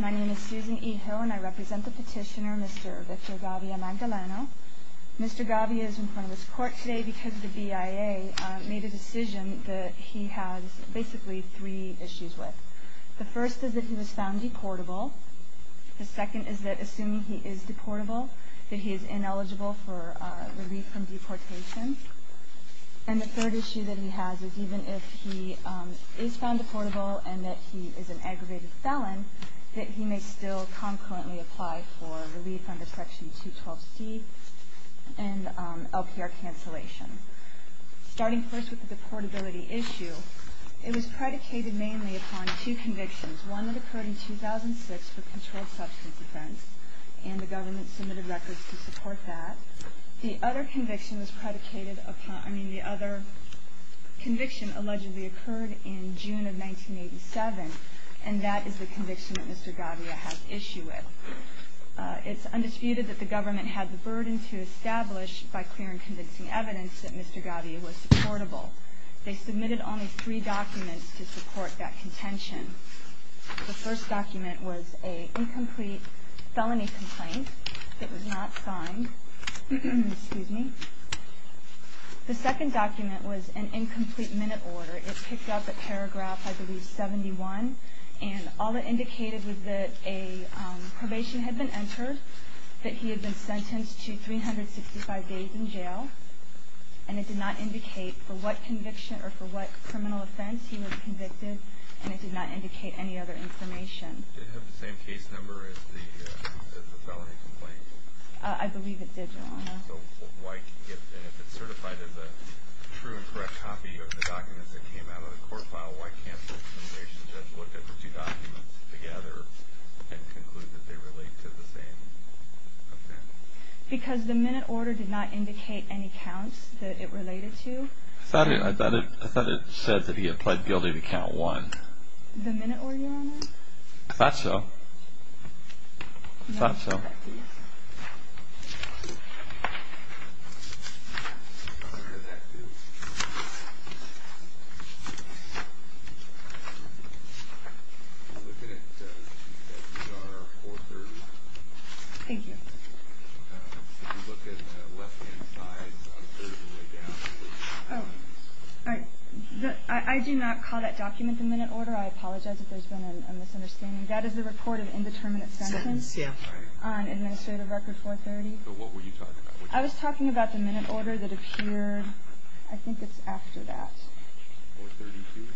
My name is Susan E. Hill and I represent the petitioner Mr. Victor Gavia-Magdaleno. Mr. Gavia is in front of this court today because the BIA made a decision that he has basically three issues with. The first is that he was found deportable. The second is that, assuming he is deportable, that he is ineligible for relief from deportation. And the third issue that he has is, even if he is found deportable and that he is an aggravated felon, that he may still concurrently apply for relief under Section 212C and LPR cancellation. Starting first with the deportability issue, it was predicated mainly upon two convictions. One that occurred in 2006 for controlled substance offense, and the government submitted records to support that. The other conviction allegedly occurred in June of 1987, and that is the conviction that Mr. Gavia has issue with. It's undisputed that the government had the burden to establish, by clear and convincing evidence, that Mr. Gavia was supportable. They submitted only three documents to support that contention. The first document was an incomplete felony complaint that was not signed. The second document was an incomplete minute order. It picked up at paragraph, I believe, 71, and all it indicated was that a probation had been entered, that he had been sentenced to 365 days in jail, and it did not indicate for what conviction or for what criminal offense he was convicted, and it did not indicate any other information. Did it have the same case number as the felony complaint? I believe it did, Your Honor. So why, if it's certified as a true and correct copy of the documents that came out of the court file, why can't the probation judge look at the two documents together and conclude that they relate to the same? Because the minute order did not indicate any counts that it related to. I thought it said that he had pled guilty to count one. The minute order, Your Honor? I thought so. I thought so. Thank you. I do not call that document the minute order. I apologize if there's been a misunderstanding. That is the report of indeterminate sentence on administrative record 430. So what were you talking about? I was talking about the minute order that appeared, I think it's after that. 432?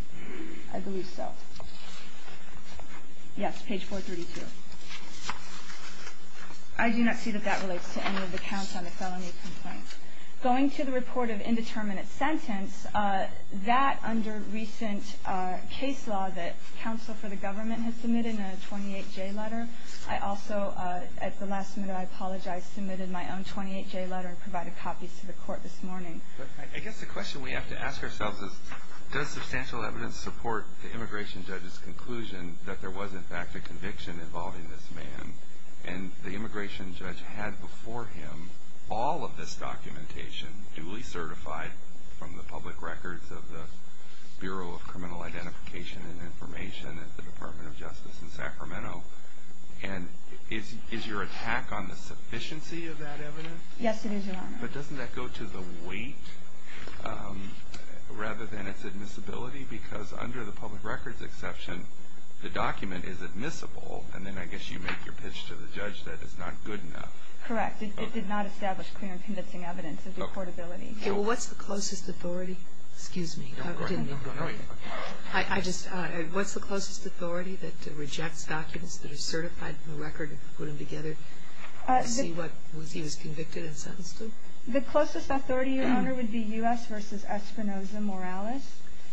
I believe so. Yes, page 432. I do not see that that relates to any of the counts on the felony complaint. Going to the report of indeterminate sentence, that under recent case law that counsel for the government had submitted in a 28-J letter. I also, at the last minute, I apologize, submitted my own 28-J letter and provided copies to the court this morning. I guess the question we have to ask ourselves is, does substantial evidence support the immigration judge's conclusion that there was, in fact, a conviction involving this man? And the immigration judge had before him all of this documentation, duly certified from the public records of the Bureau of Criminal Identification and Information at the Department of Justice in Sacramento. And is your attack on the sufficiency of that evidence? Yes, it is, Your Honor. But doesn't that go to the weight rather than its admissibility? Because under the public records exception, the document is admissible. And then I guess you make your pitch to the judge that it's not good enough. Correct. It did not establish clear and convincing evidence of deportability. Okay. Well, what's the closest authority? Excuse me. Go ahead. I just, what's the closest authority that rejects documents that are certified from the record and put them together to see what he was convicted and sentenced to? The closest authority, Your Honor, would be U.S. v. Espinosa Morales.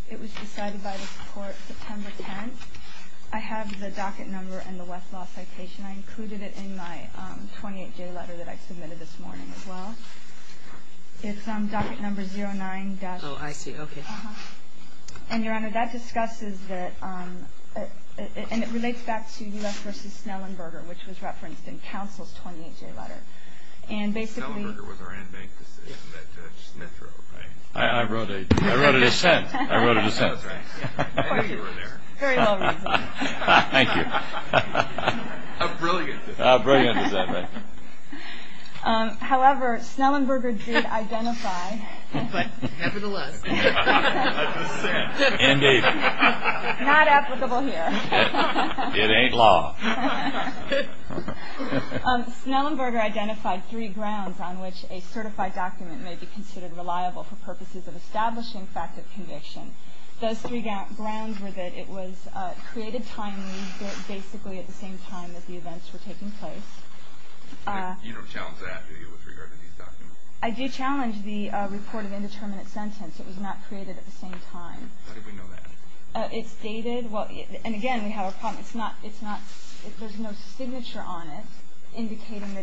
It was decided by the court September 10th. I have the docket number and the Westlaw citation. I included it in my 28-J letter that I submitted this morning as well. It's docket number 09- Oh, I see. Okay. And, Your Honor, that discusses that, and it relates back to U.S. v. Snellenberger, which was referenced in counsel's 28-J letter. And basically- Snellenberger was our in-bank decision that Judge Smith wrote, right? I wrote a dissent. I wrote a dissent. That's right. I knew you were there. Very well reasoned. Thank you. How brilliant is that? How brilliant is that, right? However, Snellenberger did identify- But, nevertheless- A dissent. Indeed. Not applicable here. It ain't law. Snellenberger identified three grounds on which a certified document may be considered reliable for purposes of establishing fact of conviction. Those three grounds were that it was created timely, basically at the same time as the events were taking place. You don't challenge that, do you, with regard to these documents? I do challenge the reported indeterminate sentence. It was not created at the same time. How did we know that? It's dated. And, again, we have a problem. There's no signature on it indicating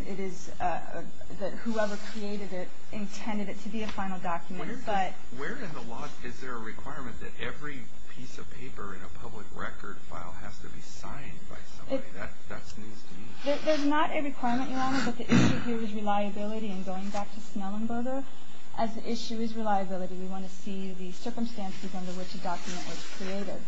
that whoever created it intended it to be a final document. Where in the law is there a requirement that every piece of paper in a public record file has to be signed by somebody? That's news to me. There's not a requirement, Your Honor, but the issue here is reliability. And going back to Snellenberger, as the issue is reliability, we want to see the circumstances under which a document was created.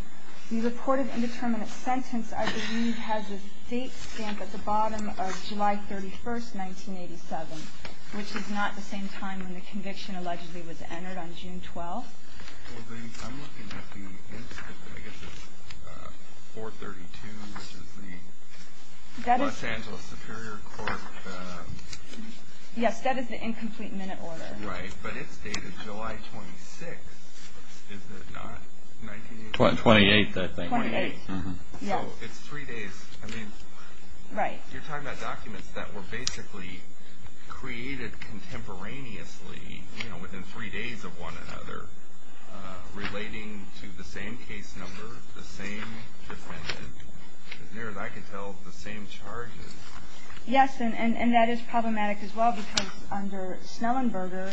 The reported indeterminate sentence, I believe, has a date stamp at the bottom of July 31st, 1987, which is not the same time when the conviction allegedly was entered on June 12th. I'm looking at the incident, I guess it's 4-32, which is the Los Angeles Superior Court. Yes, that is the incomplete minute order. Right, but it's dated July 26th, is it not? 28th, I think. 28th. So it's three days. Right. You're talking about documents that were basically created contemporaneously, you know, within three days of one another, relating to the same case number, the same defendant, as near as I can tell, the same charges. Yes, and that is problematic as well because under Snellenberger,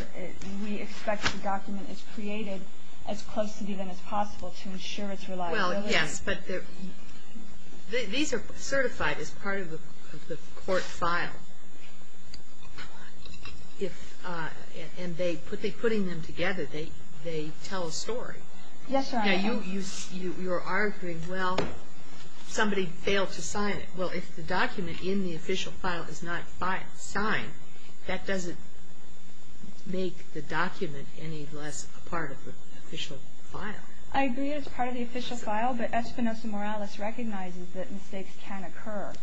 we expect the document is created as close to the event as possible to ensure its reliability. Well, yes, but these are certified as part of the court file, and putting them together, they tell a story. Yes, Your Honor. Now, you're arguing, well, somebody failed to sign it. Well, if the document in the official file is not signed, that doesn't make the document any less a part of the official file. I agree it's part of the official file, but Espinoza-Morales recognizes that mistakes can occur.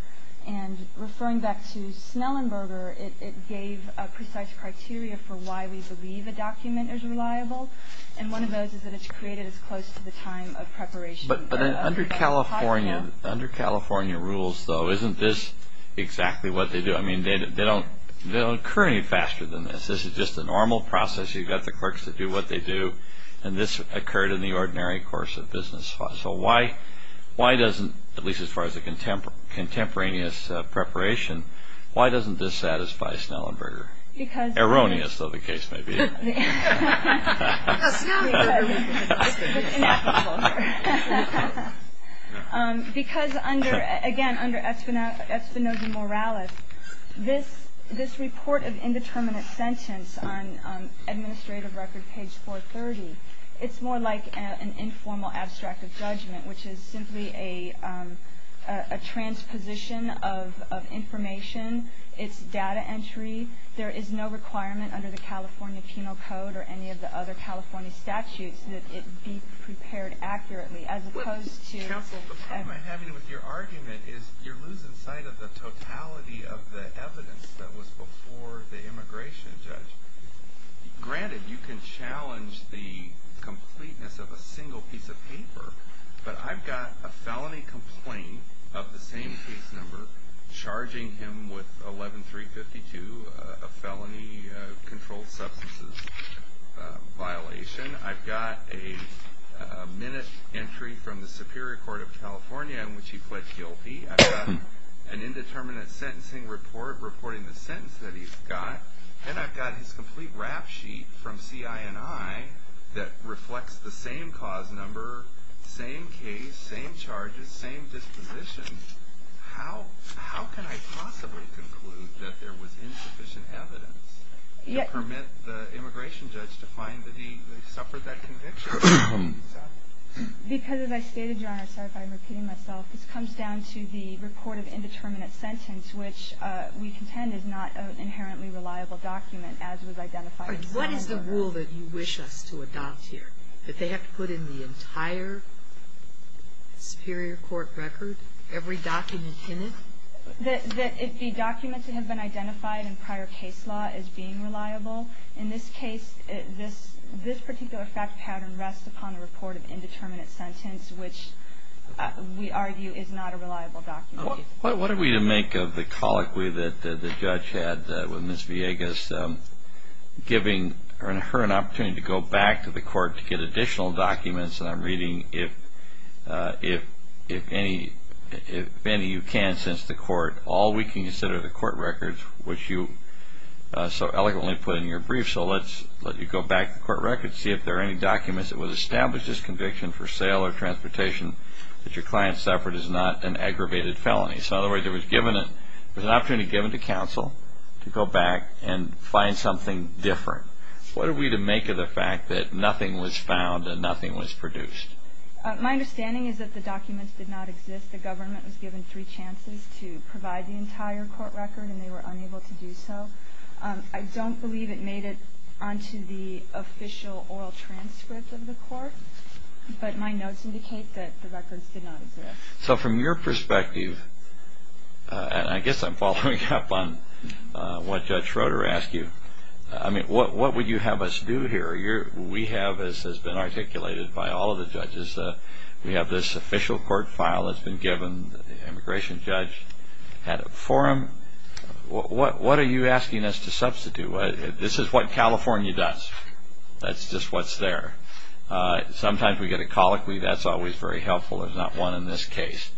And referring back to Snellenberger, it gave precise criteria for why we believe a document is reliable, and one of those is that it's created as close to the time of preparation. But under California rules, though, isn't this exactly what they do? I mean, they don't occur any faster than this. This is just a normal process. You've got the clerks that do what they do, and this occurred in the ordinary course of business. So why doesn't, at least as far as a contemporaneous preparation, why doesn't this satisfy Snellenberger? Erroneous, though, the case may be. Because, again, under Espinoza-Morales, this report of indeterminate sentence on administrative record page 430, it's more like an informal abstract of judgment, which is simply a transposition of information. It's data entry. There is no requirement under the California Penal Code or any of the other California statutes that it be prepared accurately, as opposed to- Counsel, the problem I have with your argument is you're losing sight of the totality of the evidence that was before the immigration judge. Granted, you can challenge the completeness of a single piece of paper, but I've got a felony complaint of the same case number charging him with 11352, a felony controlled substances violation. I've got a minute entry from the Superior Court of California in which he pled guilty. I've got an indeterminate sentencing report reporting the sentence that he's got. And I've got his complete rap sheet from CINI that reflects the same cause number, same case, same charges, same disposition. How can I possibly conclude that there was insufficient evidence to permit the immigration judge to find that he suffered that conviction? Because, as I stated, Your Honor, sorry if I'm repeating myself, this comes down to the report of indeterminate sentence, which we contend is not an inherently reliable document, as was identified- What is the rule that you wish us to adopt here? That they have to put in the entire superior court record, every document in it? That the documents that have been identified in prior case law as being reliable. In this case, this particular fact pattern rests upon a report of indeterminate sentence, which we argue is not a reliable document. What are we to make of the colloquy that the judge had with Ms. Villegas, giving her an opportunity to go back to the court to get additional documents? And I'm reading, if any of you can since the court, all we can consider the court records, which you so elegantly put in your brief, so let's let you go back to court records, see if there are any documents that would establish this conviction for sale or transportation that your client suffered is not an aggravated felony. In other words, there was an opportunity given to counsel to go back and find something different. What are we to make of the fact that nothing was found and nothing was produced? My understanding is that the documents did not exist. The government was given three chances to provide the entire court record, and they were unable to do so. I don't believe it made it onto the official oral transcript of the court, but my notes indicate that the records did not exist. So from your perspective, and I guess I'm following up on what Judge Schroeder asked you, I mean, what would you have us do here? We have, as has been articulated by all of the judges, we have this official court file that's been given. The immigration judge had it for him. What are you asking us to substitute? This is what California does. That's just what's there. Sometimes we get a colloquy. That's always very helpful. There's not one in this case.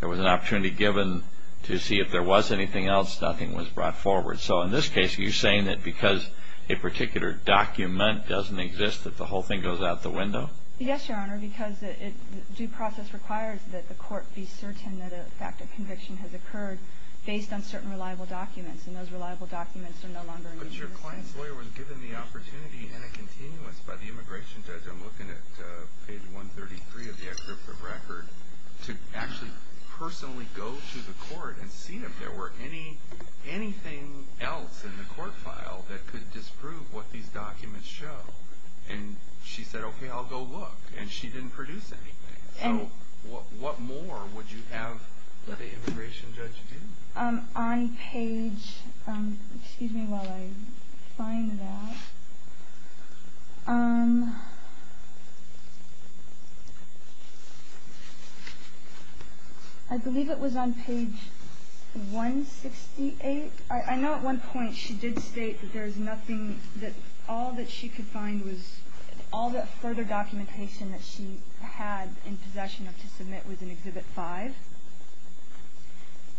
There was an opportunity given to see if there was anything else. Nothing was brought forward. So in this case, are you saying that because a particular document doesn't exist, that the whole thing goes out the window? Yes, Your Honor, because due process requires that the court be certain that a fact of conviction has occurred based on certain reliable documents, and those reliable documents are no longer in use in this case. But your client's lawyer was given the opportunity in a continuous by the immigration judge, I'm looking at page 133 of the excerpt of record, to actually personally go to the court and see if there were anything else in the court file that could disprove what these documents show. And she said, okay, I'll go look, and she didn't produce anything. What more would you have the immigration judge do? On page, excuse me while I find that. I believe it was on page 168. I know at one point she did state that there's nothing, that all that she could find was, all the further documentation that she had in possession of to submit was in Exhibit 5.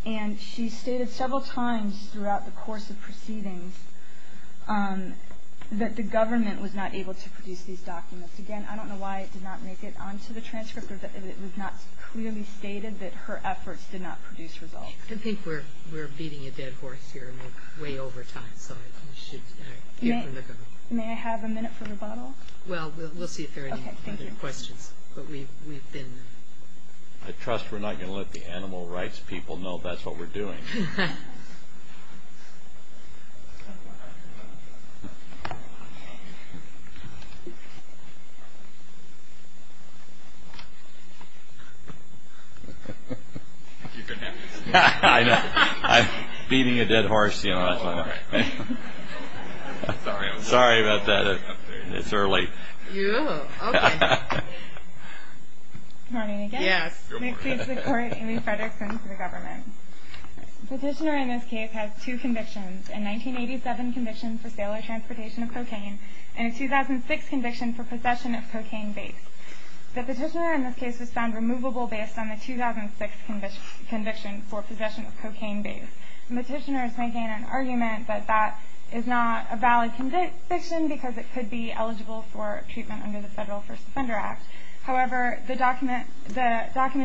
And she stated several times throughout the course of proceedings that the government was not able to produce these documents. Again, I don't know why it did not make it onto the transcript, or that it was not clearly stated that her efforts did not produce results. I think we're beating a dead horse here, and we're way over time. May I have a minute for rebuttal? Well, we'll see if there are any other questions. I trust we're not going to let the animal rights people know that's what we're doing. I know, I'm beating a dead horse. Sorry about that, it's early. Good morning again. My name is Amy Fredrickson for the government. The petitioner in this case has two convictions, a 1987 conviction for sale or transportation of cocaine, and a 2006 conviction for possession of cocaine base. The petitioner in this case was found removable based on the 2006 conviction for possession of cocaine base. The petitioner is making an argument that that is not a valid conviction because it could be eligible for treatment under the Federal First Offender Act. However, the documents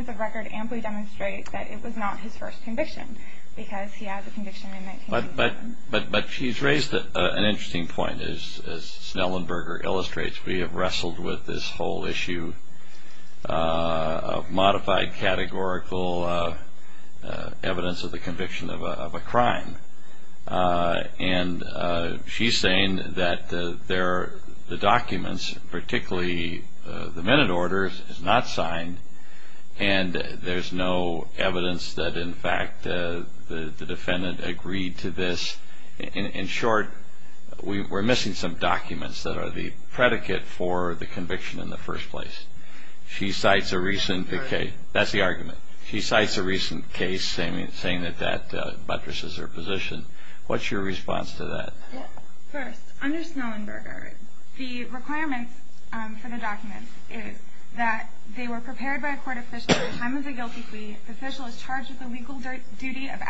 of record amply demonstrate that it was not his first conviction because he had the conviction in 1987. But she's raised an interesting point. As Snellenberger illustrates, we have wrestled with this whole issue of modified categorical evidence of the conviction of a crime. She's saying that the documents, particularly the minute order, is not signed and there's no evidence that, in fact, the defendant agreed to this. In short, we're missing some documents that are the predicate for the conviction in the first place. That's the argument. She cites a recent case saying that that buttresses her position. What's your response to that? First, under Snellenberger, the requirements for the documents is that they were prepared by a court official at the time of the guilty plea. The official is charged with the legal duty of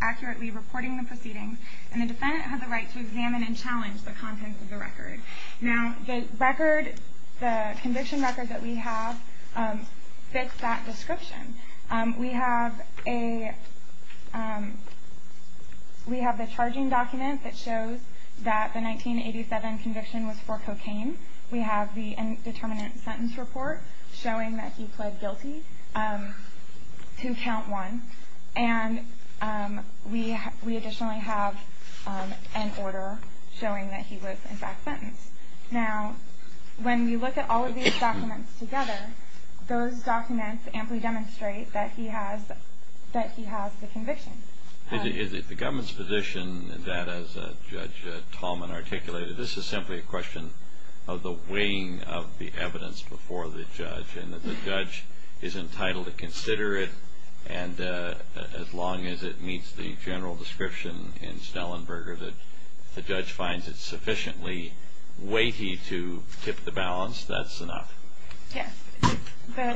accurately reporting the proceedings and the defendant has the right to examine and challenge the contents of the record. Now, the conviction record that we have fits that description. We have the charging document that shows that the 1987 conviction was for cocaine. We have the indeterminate sentence report showing that he pled guilty. Two count one. And we additionally have an order showing that he was, in fact, sentenced. Now, when you look at all of these documents together, those documents amply demonstrate that he has the conviction. Is it the government's position that, as Judge Tallman articulated, this is simply a question of the weighing of the evidence before the judge and that the judge is entitled to consider it and as long as it meets the general description in Snellenberger that the judge finds it sufficiently weighty to tip the balance, that's enough? Yes.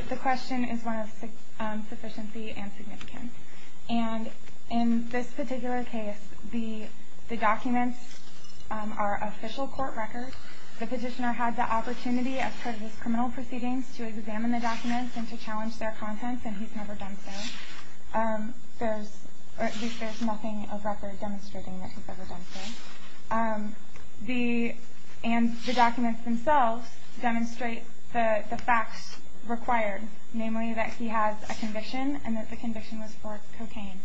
The question is one of sufficiency and significance. And in this particular case, the documents are official court records. The petitioner had the opportunity, as part of his criminal proceedings, to examine the documents and to challenge their contents, and he's never done so. There's nothing of record demonstrating that he's ever done so. And the documents themselves demonstrate the facts required, namely that he has a conviction and that the conviction was for cocaine.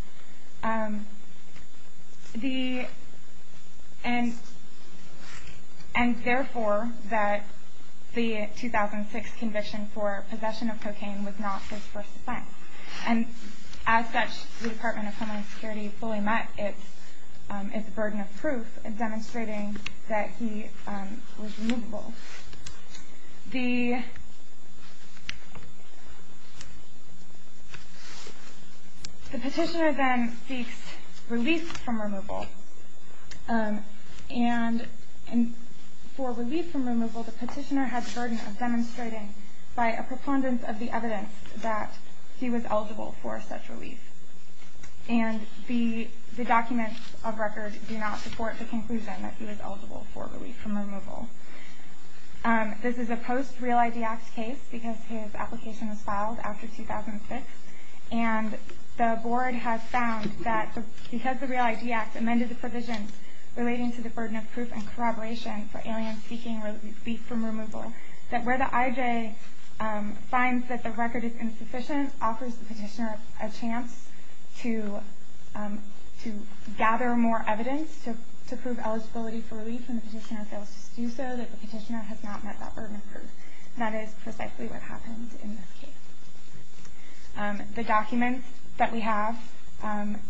And, therefore, that the 2006 conviction for possession of cocaine was not his first offense. And as such, the Department of Homeland Security fully met its burden of proof demonstrating that he was removable. The petitioner then seeks relief from removal. And for relief from removal, the petitioner had the burden of demonstrating by a preponderance of the evidence that he was eligible for such relief. And the documents of record do not support the conclusion that he was eligible for relief from removal. This is a post-Real ID Act case because his application was filed after 2006. And the board has found that because the Real ID Act amended the provisions relating to the burden of proof and corroboration for aliens seeking relief from removal, that where the IJ finds that the record is insufficient offers the petitioner a chance to gather more evidence to prove eligibility for relief. And the petitioner fails to do so. The petitioner has not met that burden of proof. That is precisely what happens in this case. The documents that we have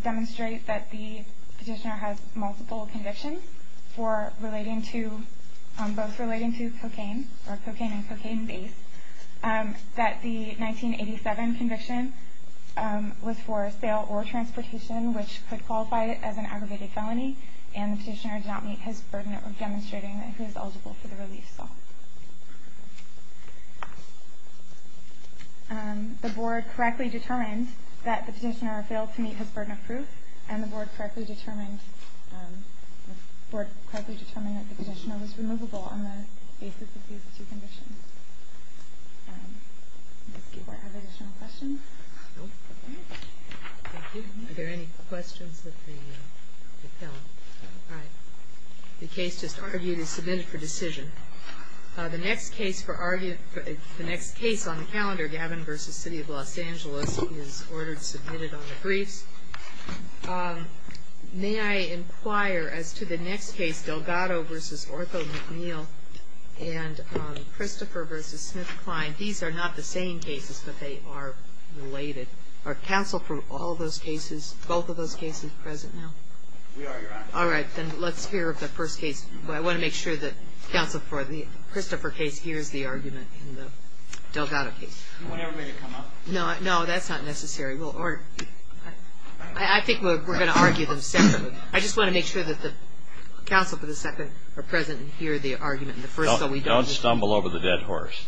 demonstrate that the petitioner has multiple convictions for both relating to cocaine or cocaine and cocaine-based that the 1987 conviction was for sale or transportation, which could qualify it as an aggravated felony, and the petitioner did not meet his burden of demonstrating that he was eligible for the relief. The board correctly determined that the petitioner failed to meet his burden of proof, and the board correctly determined that the petitioner was removable on the basis of these two conditions. Does the board have additional questions? No. Thank you. Are there any questions of the appellant? No. All right. The case just argued is submitted for decision. The next case on the calendar, Gavin v. City of Los Angeles, is ordered submitted on the briefs. May I inquire as to the next case, Delgado v. Ortho McNeil and Christopher v. Smith-Klein? These are not the same cases, but they are related. Are counsel for all those cases, both of those cases present now? We are, Your Honor. All right. Then let's hear the first case. I want to make sure that counsel for the Christopher case hears the argument in the Delgado case. Do you want everybody to come up? No, that's not necessary. I think we're going to argue them separately. I just want to make sure that the counsel for the second are present and hear the argument in the first. Don't stumble over the dead horse.